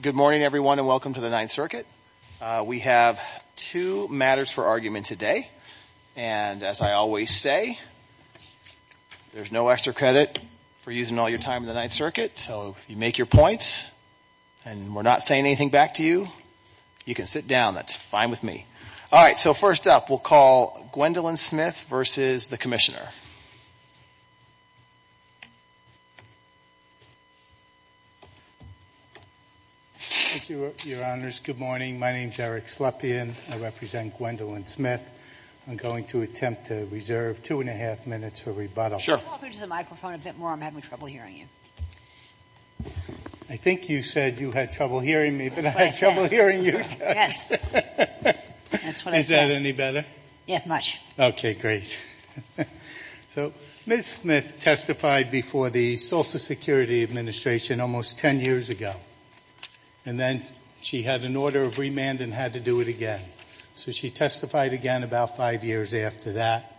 Good morning, everyone, and welcome to the Ninth Circuit. We have two matters for argument today. And as I always say, there's no extra credit for using all your time in the Ninth Circuit. So if you make your points and we're not saying anything back to you, you can sit down. That's fine with me. All right. So first up, we'll call Gwendolyn Smith v. The Commissioner. Slepian Thank you, Your Honors. Good morning. My name is Eric Slepian. I represent Gwendolyn Smith. I'm going to attempt to reserve two and a half minutes for rebuttal. Sotomayor Sure. Sotomayor Can you move over to the microphone a bit more? I'm having trouble hearing you. Slepian I think you said you had trouble hearing me, but I had trouble hearing you. Sotomayor Yes. That's what I said. Slepian Is that any better? Sotomayor Yes, much. Slepian Okay. Great. So Ms. Smith testified before the Social Security Administration almost ten years ago. And then she had an order of remand and had to do it again. So she testified again about five years after that.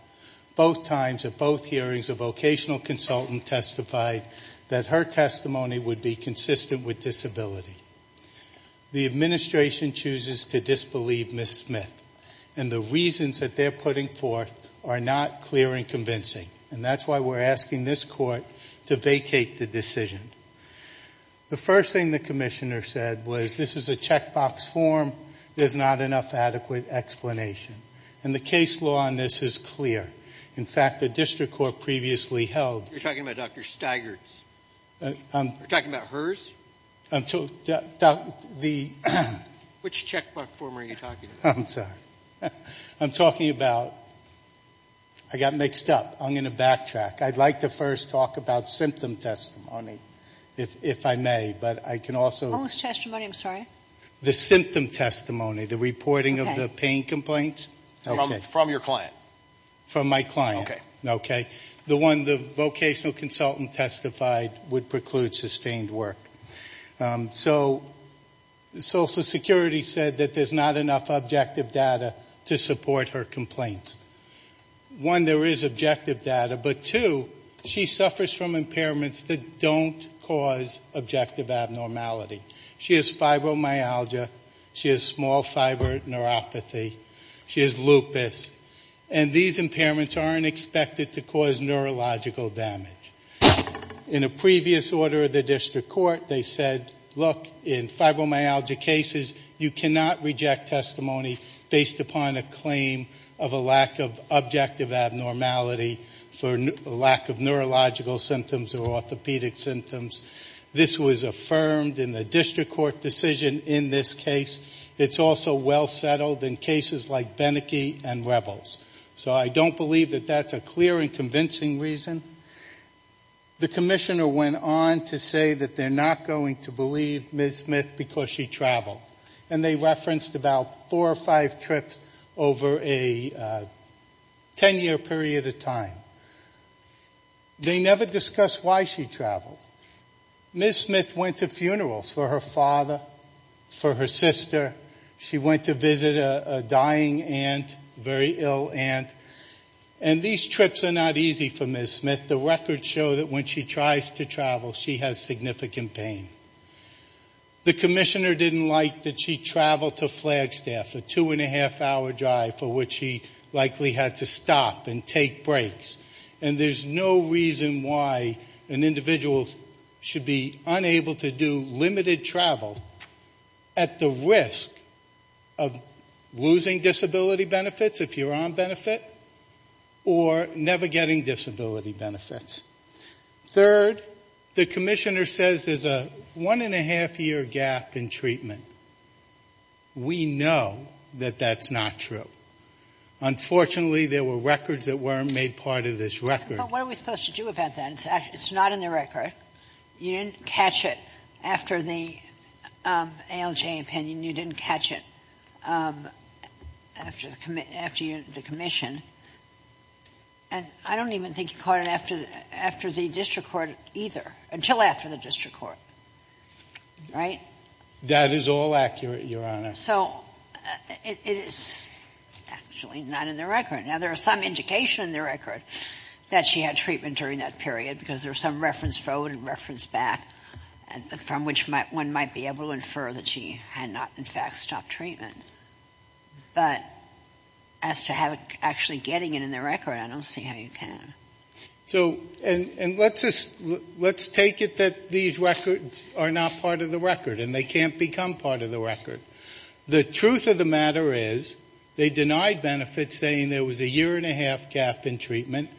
Both times at both hearings, a vocational consultant testified that her testimony would be consistent with disability. The Administration chooses to disbelieve Ms. Smith. And the reasons that they're putting forth are not clear and convincing. And that's why we're asking this Court to vacate the decision. The first thing the Commissioner said was this is a checkbox form. There's not enough adequate explanation. And the case law on this is clear. In fact, the District Court previously held Sotomayor You're talking about Dr. Staggert's. You're talking about hers? Slepian The Sotomayor Which checkbox form are you talking about? Slepian I'm sorry. I'm talking about I got mixed up. I'm going to backtrack. I'd like to first talk about symptom testimony, if I may. But I can also Sotomayor What was testimony? I'm sorry. Slepian The symptom testimony, the reporting of the pain complaints. Sotomayor Okay. From your client. Slepian From my client. Sotomayor Okay. Slepian The vocational consultant testified would preclude sustained work. So Social Security said that there's not enough objective data to support her complaints. One, there is objective data. But two, she suffers from impairments that don't cause objective abnormality. She has fibromyalgia. She has small fiber neuropathy. She has lupus. And these impairments aren't expected to cause neurological damage. In a previous order of the district court, they said, look, in fibromyalgia cases, you cannot reject testimony based upon a claim of a lack of objective abnormality for lack of neurological symptoms or orthopedic symptoms. This was affirmed in the district court decision in this case. It's also well settled in cases like Beneke and Revels. So I don't believe that that's a clear and convincing reason. The commissioner went on to say that they're not going to believe Ms. Smith because she traveled. And they referenced about four or five trips over a ten-year period of time. They never discussed why she traveled. Ms. Smith went to funerals for her father, for her sister. She went to visit a dying aunt, very ill aunt. And these trips are not easy for Ms. Smith. The records show that when she tries to travel, she has significant pain. The commissioner didn't like that she traveled to Flagstaff, a two-and-a-half-hour drive, for which she likely had to stop and take breaks. And there's no reason why an individual should be unable to do limited travel at the risk of losing disability benefits if you're on benefit or never getting disability benefits. Third, the commissioner says there's a one-and-a-half-year gap in treatment. We know that that's not true. Unfortunately, there were records that weren't made part of this record. But what are we supposed to do about that? It's not in the record. You didn't catch it after the ALJ opinion. You didn't catch it after the commission. And I don't even think you caught it after the district court either, until after the district court. Right? That is all accurate, Your Honor. So it is actually not in the record. Now, there is some indication in the record that she had treatment during that period because there was some reference forward and reference back, from which one might be able to infer that she had not, in fact, stopped treatment. But as to actually getting it in the record, I don't see how you can. So let's take it that these records are not part of the record and they can't become part of the record. The truth of the matter is they denied benefits saying there was a year-and-a-half gap in treatment,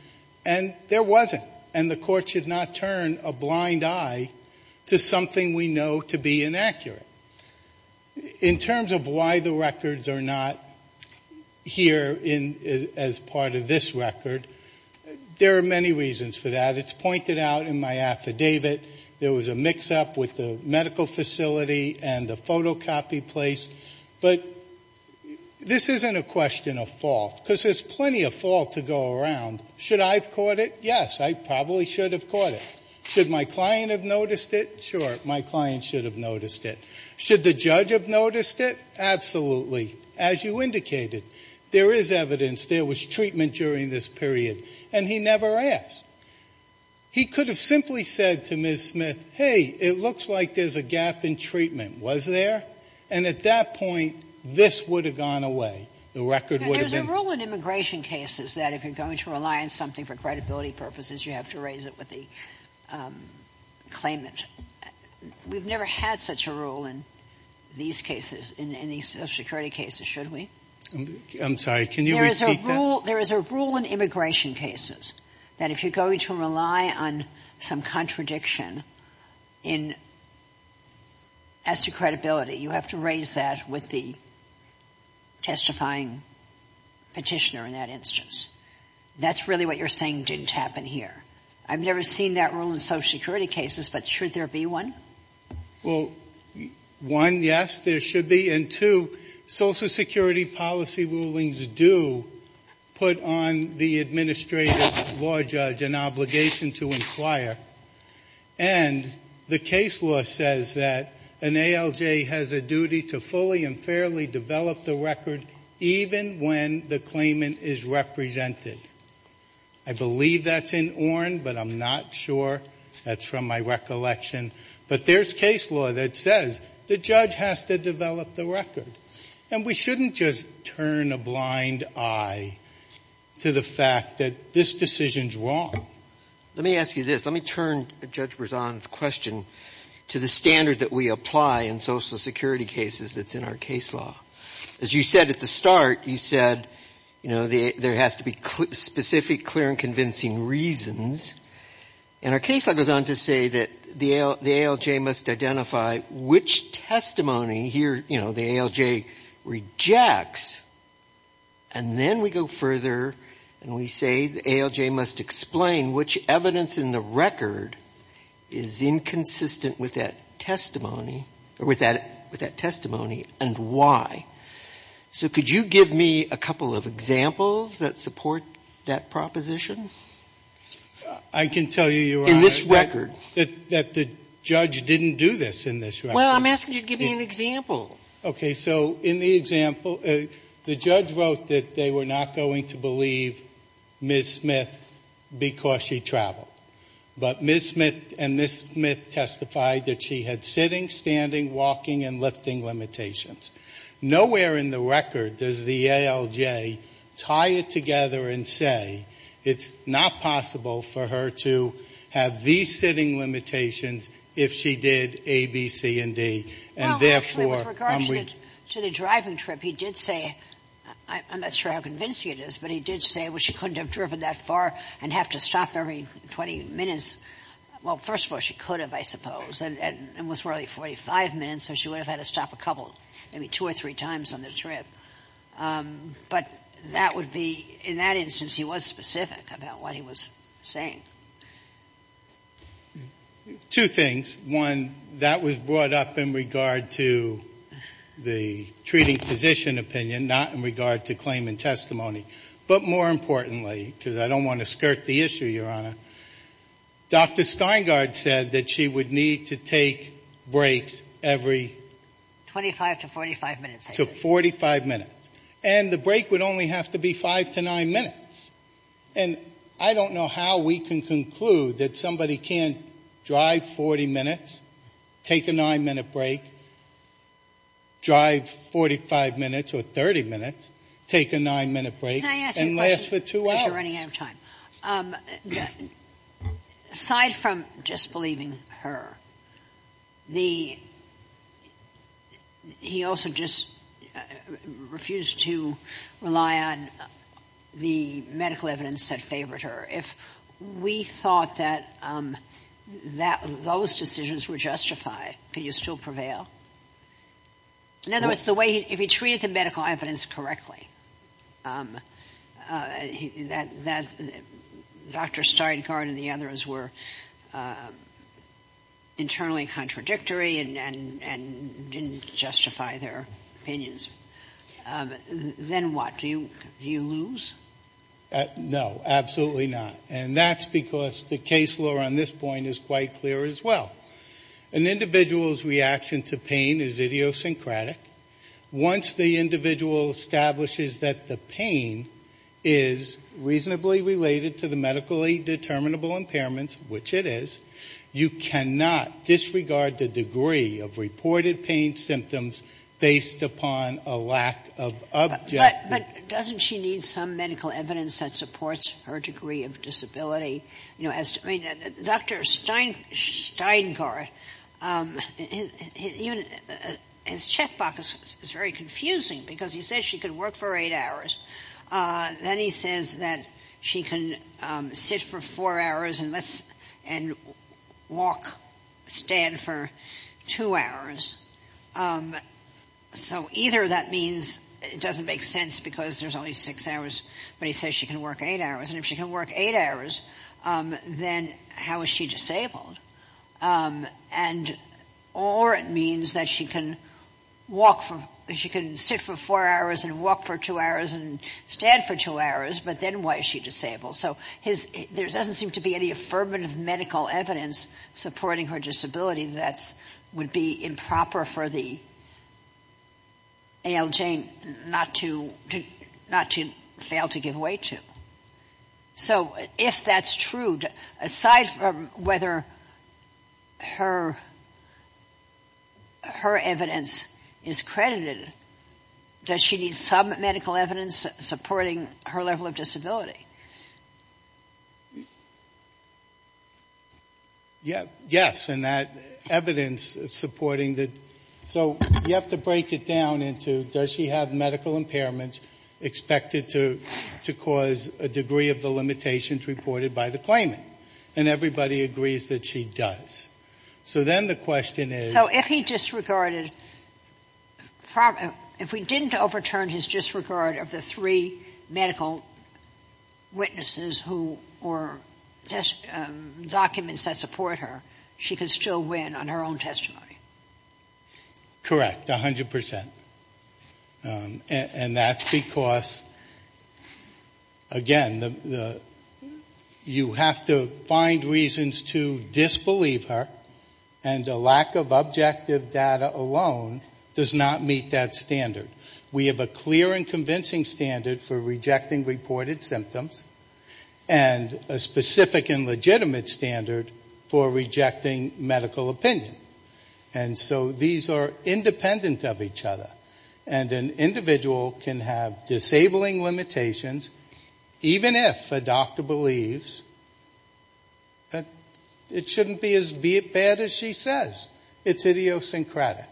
and there wasn't, and the court should not turn a blind eye to something we know to be inaccurate. In terms of why the records are not here as part of this record, there are many reasons for that. It's pointed out in my affidavit. There was a mix-up with the medical facility and the photocopy place. But this isn't a question of fault because there's plenty of fault to go around. Should I have caught it? Yes, I probably should have caught it. Should my client have noticed it? Sure, my client should have noticed it. Should the judge have noticed it? Absolutely, as you indicated. There is evidence there was treatment during this period, and he never asked. He could have simply said to Ms. Smith, hey, it looks like there's a gap in treatment. Was there? And at that point, this would have gone away. The record would have been ---- There's a rule in immigration cases that if you're going to rely on something for credibility purposes, you have to raise it with the claimant. We've never had such a rule in these cases, in these Social Security cases, should we? I'm sorry. Can you repeat that? There is a rule in immigration cases that if you're going to rely on some contradiction as to credibility, you have to raise that with the testifying Petitioner in that instance. That's really what you're saying didn't happen here. I've never seen that rule in Social Security cases, but should there be one? Well, one, yes, there should be. And two, Social Security policy rulings do put on the administrative law judge an obligation to inquire. And the case law says that an ALJ has a duty to fully and fairly develop the record even when the claimant is represented. I believe that's in ORIN, but I'm not sure. That's from my recollection. But there's case law that says the judge has to develop the record. And we shouldn't just turn a blind eye to the fact that this decision's wrong. Let me ask you this. Let me turn Judge Berzon's question to the standard that we apply in Social Security cases that's in our case law. As you said at the start, you said, you know, there has to be specific, clear, and convincing reasons. And our case law goes on to say that the ALJ must identify which testimony here, you know, the ALJ rejects. And then we go further and we say the ALJ must explain which evidence in the record is inconsistent with that testimony or with that testimony and why. So could you give me a couple of examples that support that proposition? I can tell you, Your Honor, that the judge didn't do this in this record. Well, I'm asking you to give me an example. Okay. So in the example, the judge wrote that they were not going to believe Ms. Smith because she traveled. But Ms. Smith and Ms. Smith testified that she had sitting, standing, walking, and lifting limitations. Nowhere in the record does the ALJ tie it together and say, it's not possible for her to have these sitting limitations if she did A, B, C, and D. And therefore, I'm ready. Well, actually, with regard to the driving trip, he did say, I'm not sure how convincing it is, but he did say, well, she couldn't have driven that far and have to stop every 20 minutes. Well, first of all, she could have, I suppose. And it was probably 45 minutes, so she would have had to stop a couple, maybe two or three times on the trip. But that would be, in that instance, he was specific about what he was saying. Two things. One, that was brought up in regard to the treating physician opinion, not in regard to claim and testimony. But more importantly, because I don't want to skirt the issue, Your Honor, Dr. Steingard said that she would need to take breaks every 25 to 45 minutes. To 45 minutes. And the break would only have to be five to nine minutes. And I don't know how we can conclude that somebody can't drive 40 minutes, take a nine-minute break, drive 45 minutes or 30 minutes, take a nine-minute break, and last for two hours. You're running out of time. Aside from just believing her, the — he also just refused to rely on the medical evidence that favored her. If we thought that those decisions were justified, could you still prevail? In other words, the way he — if he treated the medical evidence correctly, that Dr. Steingard and the others were internally contradictory and didn't justify their opinions, then what? Do you lose? No, absolutely not. And that's because the case law on this point is quite clear as well. An individual's reaction to pain is idiosyncratic. Once the individual establishes that the pain is reasonably related to the medically determinable impairments, which it is, you cannot disregard the degree of reported pain symptoms based upon a lack of objective — But doesn't she need some medical evidence that supports her degree of disability? I mean, Dr. Steingard, his checkbox is very confusing because he says she can work for eight hours. Then he says that she can sit for four hours and walk, stand for two hours. So either that means it doesn't make sense because there's only six hours, but he says she can work eight hours. And if she can work eight hours, then how is she disabled? Or it means that she can walk — she can sit for four hours and walk for two hours and stand for two hours, but then why is she disabled? So there doesn't seem to be any affirmative medical evidence supporting her disability that would be improper for the ALJ not to fail to give way to. So if that's true, aside from whether her evidence is credited, does she need some medical evidence supporting her level of disability? Yes. And that evidence supporting the — so you have to break it down into does she have medical impairments expected to cause a degree of the limitations reported by the claimant? And everybody agrees that she does. So then the question is — So if he disregarded — if we didn't overturn his disregard of the three medical witnesses who — or documents that support her, she could still win on her own testimony? Correct. A hundred percent. And that's because, again, the — you have to find reasons to disbelieve her, and the lack of objective data alone does not meet that standard. We have a clear and convincing standard for rejecting reported symptoms, and a specific and consistent standard for disabling. And so these are independent of each other. And an individual can have disabling limitations, even if a doctor believes that it shouldn't be as bad as she says. It's idiosyncratic.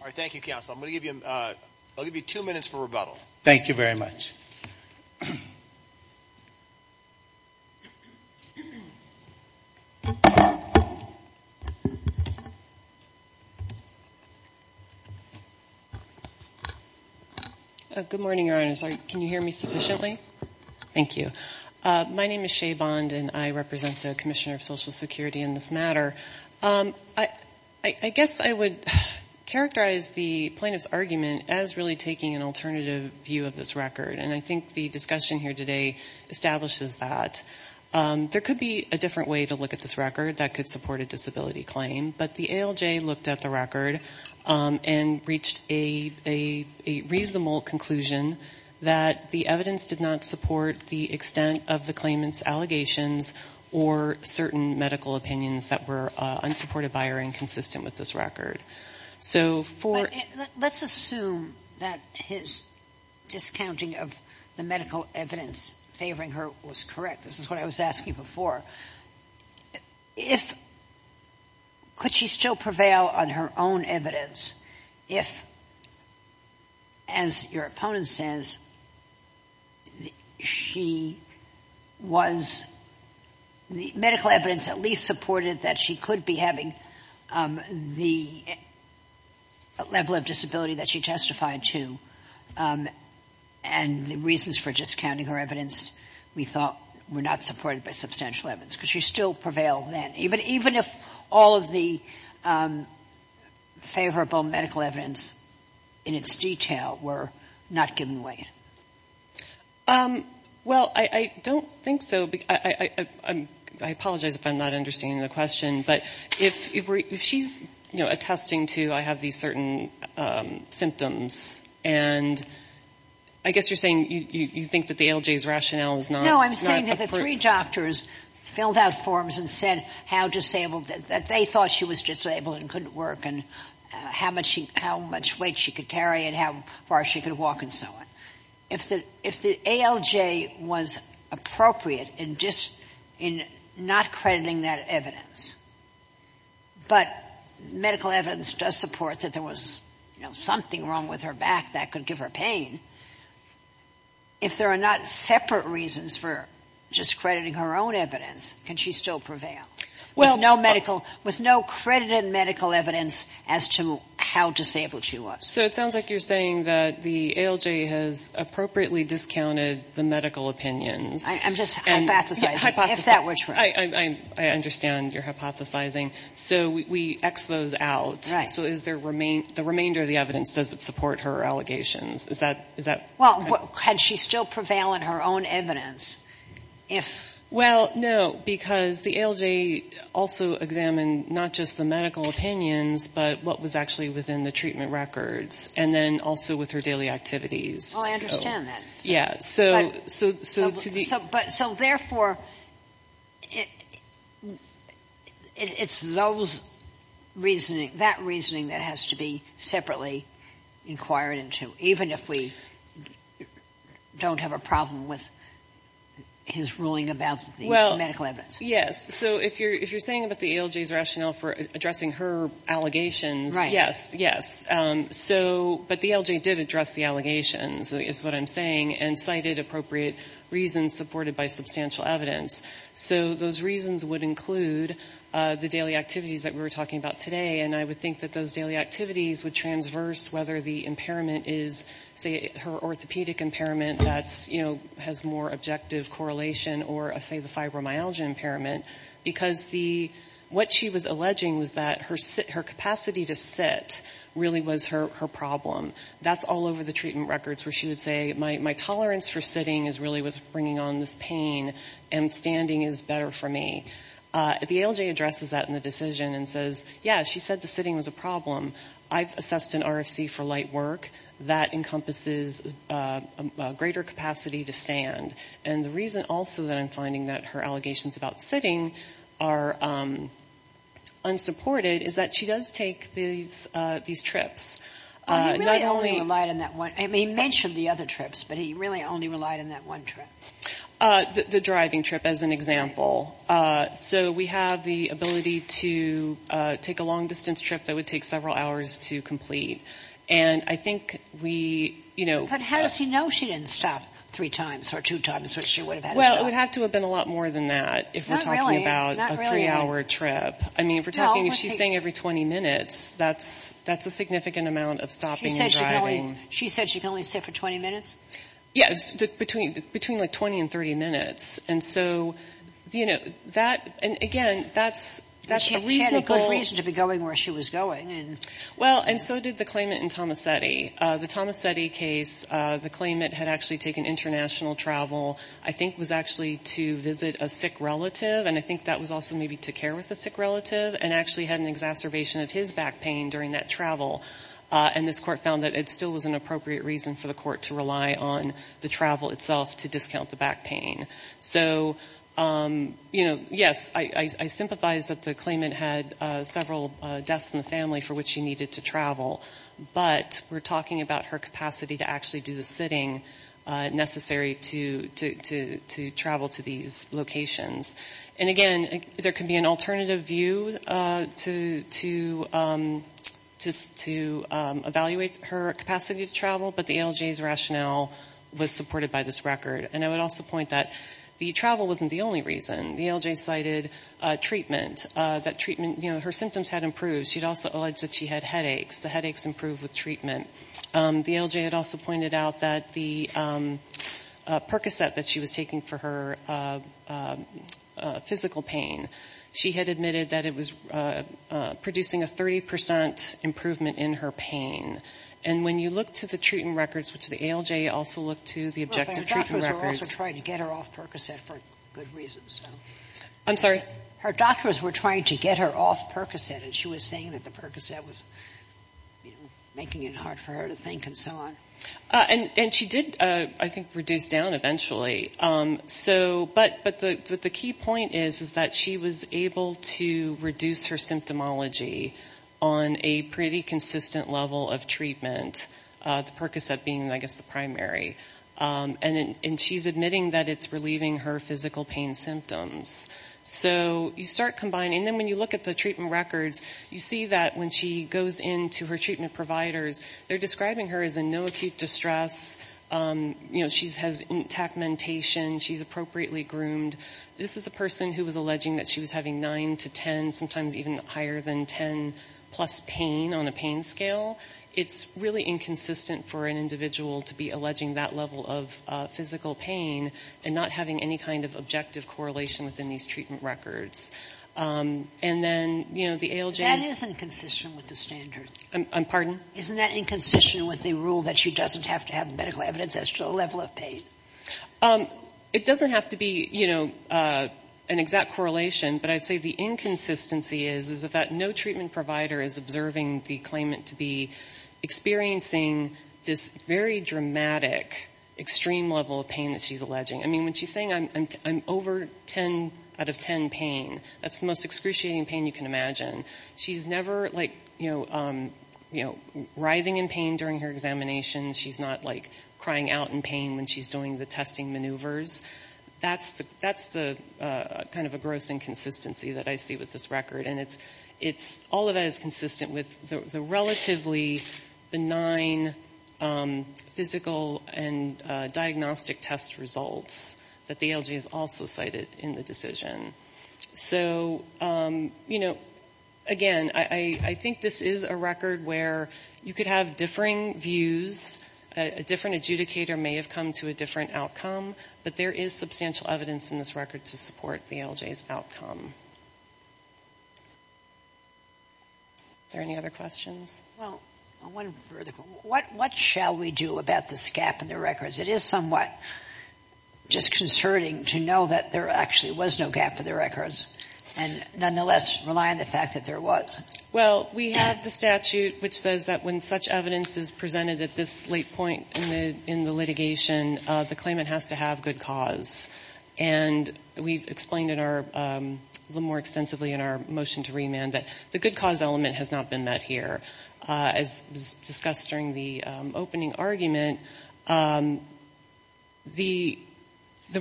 All right. Thank you, counsel. I'm going to give you — I'll give you two minutes for rebuttal. Good morning, Your Honors. Can you hear me sufficiently? Thank you. My name is Shea Bond, and I represent the Commissioner of Social Security in this matter. I guess I would characterize the plaintiff's argument as really taking an alternative view of this record. And I think the discussion here today establishes that. There could be a different way to look at this record that could support a different view. And that is that the ALJ looked at the record and reached a reasonable conclusion that the evidence did not support the extent of the claimant's allegations or certain medical opinions that were unsupported by or inconsistent with this record. So for — But let's assume that his discounting of the medical evidence favoring her was correct. This is what I was asking before. If — could she still prevail on her own evidence if, as your opponent says, she was — the medical evidence at least supported that she could be having the level of disability that she testified to, and the reasons for discounting her evidence we thought were not supported by substantial evidence? Could she still prevail then, even if all of the favorable medical evidence in its detail were not given away? Well, I don't think so. I apologize if I'm not understanding the question, but if she's attesting to I have these certain symptoms, and I guess you're saying you think that the ALJ's rationale is not — No, I'm saying that the three doctors filled out forms and said how disabled — that they thought she was disabled and couldn't work and how much weight she could carry and how far she could walk and so on. If the ALJ was appropriate in not crediting that evidence, but medical evidence does support that there was, you know, something wrong with her back that could give her pain, if there are not separate reasons for discrediting her own evidence, can she still prevail? With no medical — with no credited medical evidence as to how disabled she was. So it sounds like you're saying that the ALJ has appropriately discounted the medical opinions. I'm just hypothesizing. If that were true. I understand you're hypothesizing. So we X those out. Right. So is there — the remainder of the evidence, does it support her allegations? Is that — Well, can she still prevail in her own evidence if — Well, no, because the ALJ also examined not just the medical opinions, but what was actually within the treatment records, and then also with her daily activities. Oh, I understand that. So therefore, it's those reasoning — that reasoning that has to be separately inquired into, even if we don't have a problem with his ruling about the medical evidence. Well, yes. So if you're saying about the ALJ's rationale for addressing her allegations — Yes, yes. So — but the ALJ did address the allegations, is what I'm saying, and cited appropriate reasons supported by substantial evidence. So those reasons would include the daily activities that we were talking about today, and I would think that those daily activities would transverse whether the impairment is, say, her orthopedic impairment that's, you know, has more objective correlation, or, say, the fibromyalgia impairment, because the — what she was alleging was that her capacity to sit really was her problem. That's all over the treatment records, where she would say, my tolerance for sitting is really what's bringing on this pain, and standing is better for me. The ALJ addresses that in the decision and says, yeah, she said the sitting was a problem. I've assessed an RFC for light work. That encompasses a greater capacity to stand. And the reason also that I'm finding that her allegations about sitting are unsupported is that she does take these trips, not only — Well, he really only relied on that one — I mean, he mentioned the other trips, but he really only relied on that one trip. The driving trip, as an example. So we have the ability to take a long-distance trip that would take several hours to complete. And I think we — But how does he know she didn't stop three times or two times, which she would have had to stop? Well, it would have to have been a lot more than that, if we're talking about a three-hour trip. I mean, if we're talking — if she's staying every 20 minutes, that's a significant amount of stopping and driving. She said she can only sit for 20 minutes? Yes, between, like, 20 and 30 minutes. And so, you know, that — and again, that's a reasonable — But she had a good reason to be going where she was going, and — Well, and so did the claimant in Tomassetti. The Tomassetti case, the claimant had actually taken international travel, I think was actually to visit a sick relative, and I think that was also maybe to care with a sick relative, and actually had an exacerbation of his back pain during that travel. And this court found that it still was an appropriate reason for the court to rely on the travel itself to discount the back pain. So, you know, yes, I sympathize that the claimant had several deaths in the family for which she needed to travel, but we're talking about her capacity to actually do the sitting necessary to travel to these locations. And again, there can be an alternative view to — to evaluate her capacity to travel, but the ALJ's rationale was supported by this record. And I would also point that the travel wasn't the only reason. The ALJ cited treatment, that treatment — you know, her symptoms had improved. She'd also alleged that she had headaches. The headaches improved with treatment. The ALJ had also pointed out that the Percocet that she was taking for her physical pain, she had admitted that it was producing a 30 percent improvement in her pain. And when you look to the treatment records, which the ALJ also looked to, the objective treatment records — Well, her doctors were also trying to get her off Percocet for good reasons. I'm sorry? Her doctors were trying to get her off Percocet, and she was saying that the Percocet was, you know, able to reduce her symptomology on a pretty consistent level of treatment, the Percocet being, I guess, the primary. And she's admitting that it's relieving her physical pain symptoms. So you start combining — and then when you look at the treatment records, you see that when she goes into her treatment providers, they're describing her as in no acute distress, you know, she has intact mentation, she's appropriately groomed. This is a person who was alleging that she was having 9 to 10, sometimes even higher than 10 plus pain on a pain scale. It's really inconsistent for an individual to be alleging that level of physical pain and not having any kind of objective correlation within these treatment records. And then, you know, the ALJ's — That isn't consistent with the standards. Isn't that inconsistent with the rule that she doesn't have to have medical evidence as to the level of pain? It doesn't have to be, you know, an exact correlation, but I'd say the inconsistency is that no treatment provider is observing the claimant to be experiencing this very dramatic, extreme level of pain that she's alleging. I mean, when she's saying I'm over 10 out of 10 pain, that's the most excruciating pain you can imagine. She's never, like, you know, writhing in pain during her examination. She's not, like, crying out in pain when she's doing the testing maneuvers. That's the kind of a gross inconsistency that I see with this record. And it's — all of that is consistent with the relatively benign physical and diagnostic test results that the ALJ has also cited in the decision. So, you know, again, I think this is a record where you could have differing views. A different adjudicator may have come to a different outcome, but there is substantial evidence in this record to support the ALJ's outcome. Are there any other questions? Well, one further question, what shall we do about this gap in the records? It is somewhat disconcerting to know that there actually was no gap in the records and nonetheless rely on the fact that there was. Well, we have the statute which says that when such evidence is presented at this late point in the litigation, the claimant has to have good cause. And we've explained in our — a little more extensively in our motion to remand that the good cause element has not been met here. As was discussed during the opening argument, the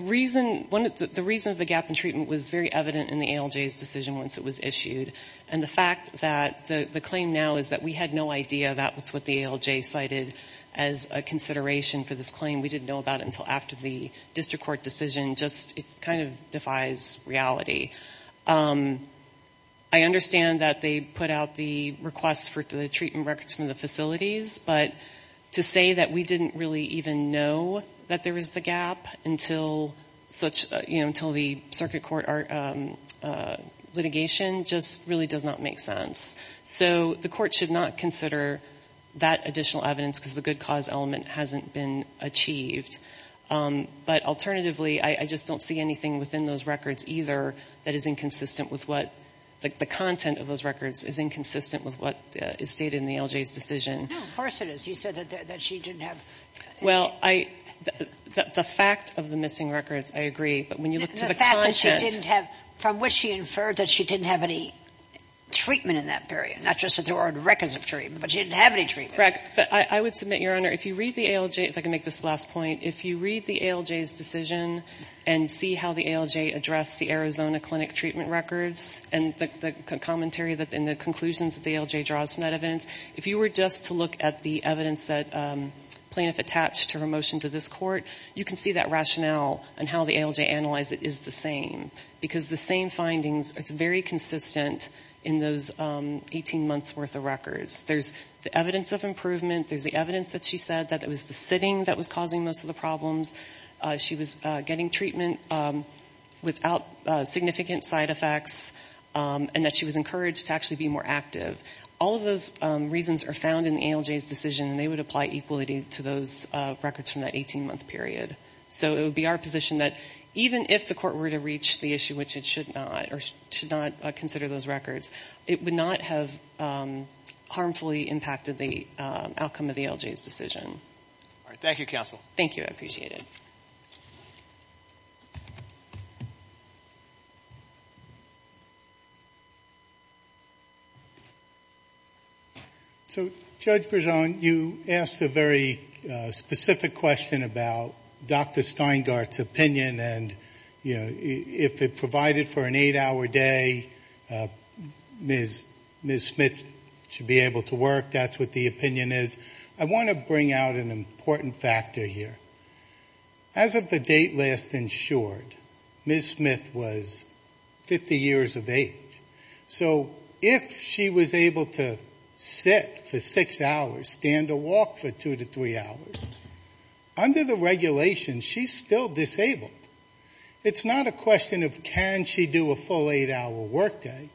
reason — the reason the gap in treatment was very evident in the ALJ's decision once it was issued. And the fact that the claim now is that we had no idea that was what the ALJ cited as a consideration for this claim. We didn't know about it until after the district court decision just — it kind of defies reality. I understand that they put out the request for the treatment records from the facilities, but to say that we didn't really even know that there was the gap until such — you know, until the circuit court litigation just really does not make sense. So the court should not consider that additional evidence because the good cause element hasn't been achieved. But alternatively, I just don't see anything within those records either that is inconsistent with what — the content of those records is inconsistent with what is stated in the ALJ's decision. No, of course it is. You said that she didn't have — Well, I — the fact of the missing records, I agree. But when you look to the content — The fact that she didn't have — from which she inferred that she didn't have any treatment in that period, not just that there weren't records of treatment, but she didn't have any treatment. Correct. But I would submit, Your Honor, if you read the ALJ — if I can make this the last point — if you read the ALJ's decision and see how the ALJ addressed the Arizona Clinic treatment records and the commentary and the conclusions that the ALJ draws from that evidence, if you were just to look at the evidence that plaintiff attached to her motion to this court, you can see that rationale and how the ALJ analyzed it is the same. Because the same findings, it's very consistent in those 18 months' worth of records. There's the evidence of improvement. There's the evidence that she said that it was the sitting that was causing most of the problems. She was getting treatment without significant side effects, and that she was encouraged to actually be more active. All of those reasons are found in the ALJ's decision, and they would apply equally to those records from that 18-month period. So it would be our position that even if the court were to reach the issue, which it should not, or should not consider those records, it would not have harmfully impacted the outcome of the ALJ's decision. All right. Thank you, counsel. Thank you. I appreciate it. So, Judge Berzon, you asked a very specific question about Dr. Steingart's opinion and, you know, if it provided for an eight-hour day, Ms. Smith should be able to work. That's what the opinion is. I want to bring out an important factor here. As of the date last insured, Ms. Smith was 50 years of age. So if she was able to sit for six hours, stand or walk for two to three hours, under the regulations she's still disabled. It's not a question of can she do a full eight-hour workday,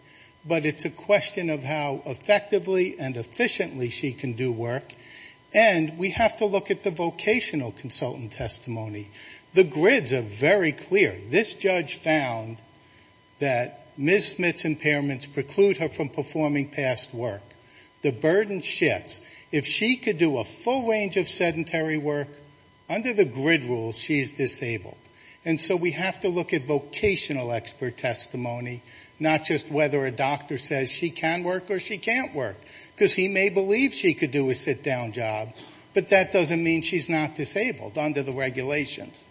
but it's a question of how effectively and efficiently she can do work, and we have to look at the vocational consultant testimony. The grids are very clear. This judge found that Ms. Smith's impairments preclude her from performing past work. The burden shifts. If she could do a full range of sedentary work, under the grid rule, she's disabled. And so we have to look at vocational expert testimony, not just whether a doctor says she can work or she can't work, because he may believe she could do a sit-down job, but that doesn't mean she's not disabled under the regulations.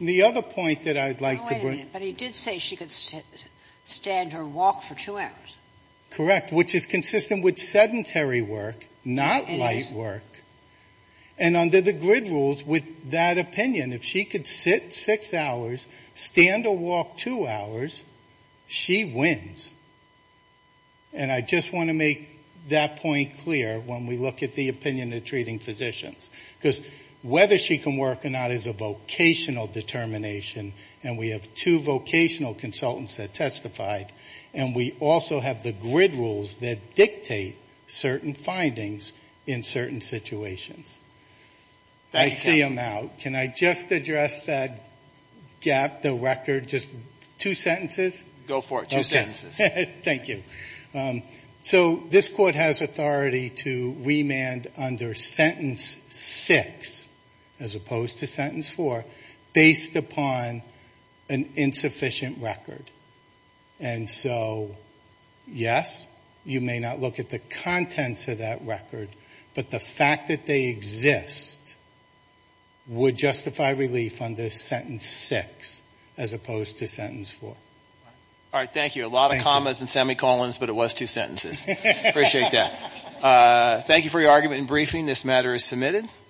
The other point that I'd like to bring up. But he did say she could stand or walk for two hours. Correct. Which is consistent with sedentary work, not light work. And under the grid rules, with that opinion, if she could sit six hours, stand or walk two hours, she wins. And I just want to make that point clear when we look at the opinion of treating physicians. Because whether she can work or not is a vocational determination, and we have two vocational consultants that testified, and we also have the grid rules that dictate certain findings in certain situations. I see them out. Can I just address that gap, the record, just two sentences? Go for it. Two sentences. Thank you. So this court has authority to remand under sentence six, as opposed to sentence four, based upon an insufficient record. And so, yes, you may not look at the contents of that record, but the fact that they exist would justify relief under sentence six, as opposed to sentence four. All right. Thank you. A lot of commas and semicolons, but it was two sentences. Appreciate that. Thank you for your argument and briefing. This matter is submitted.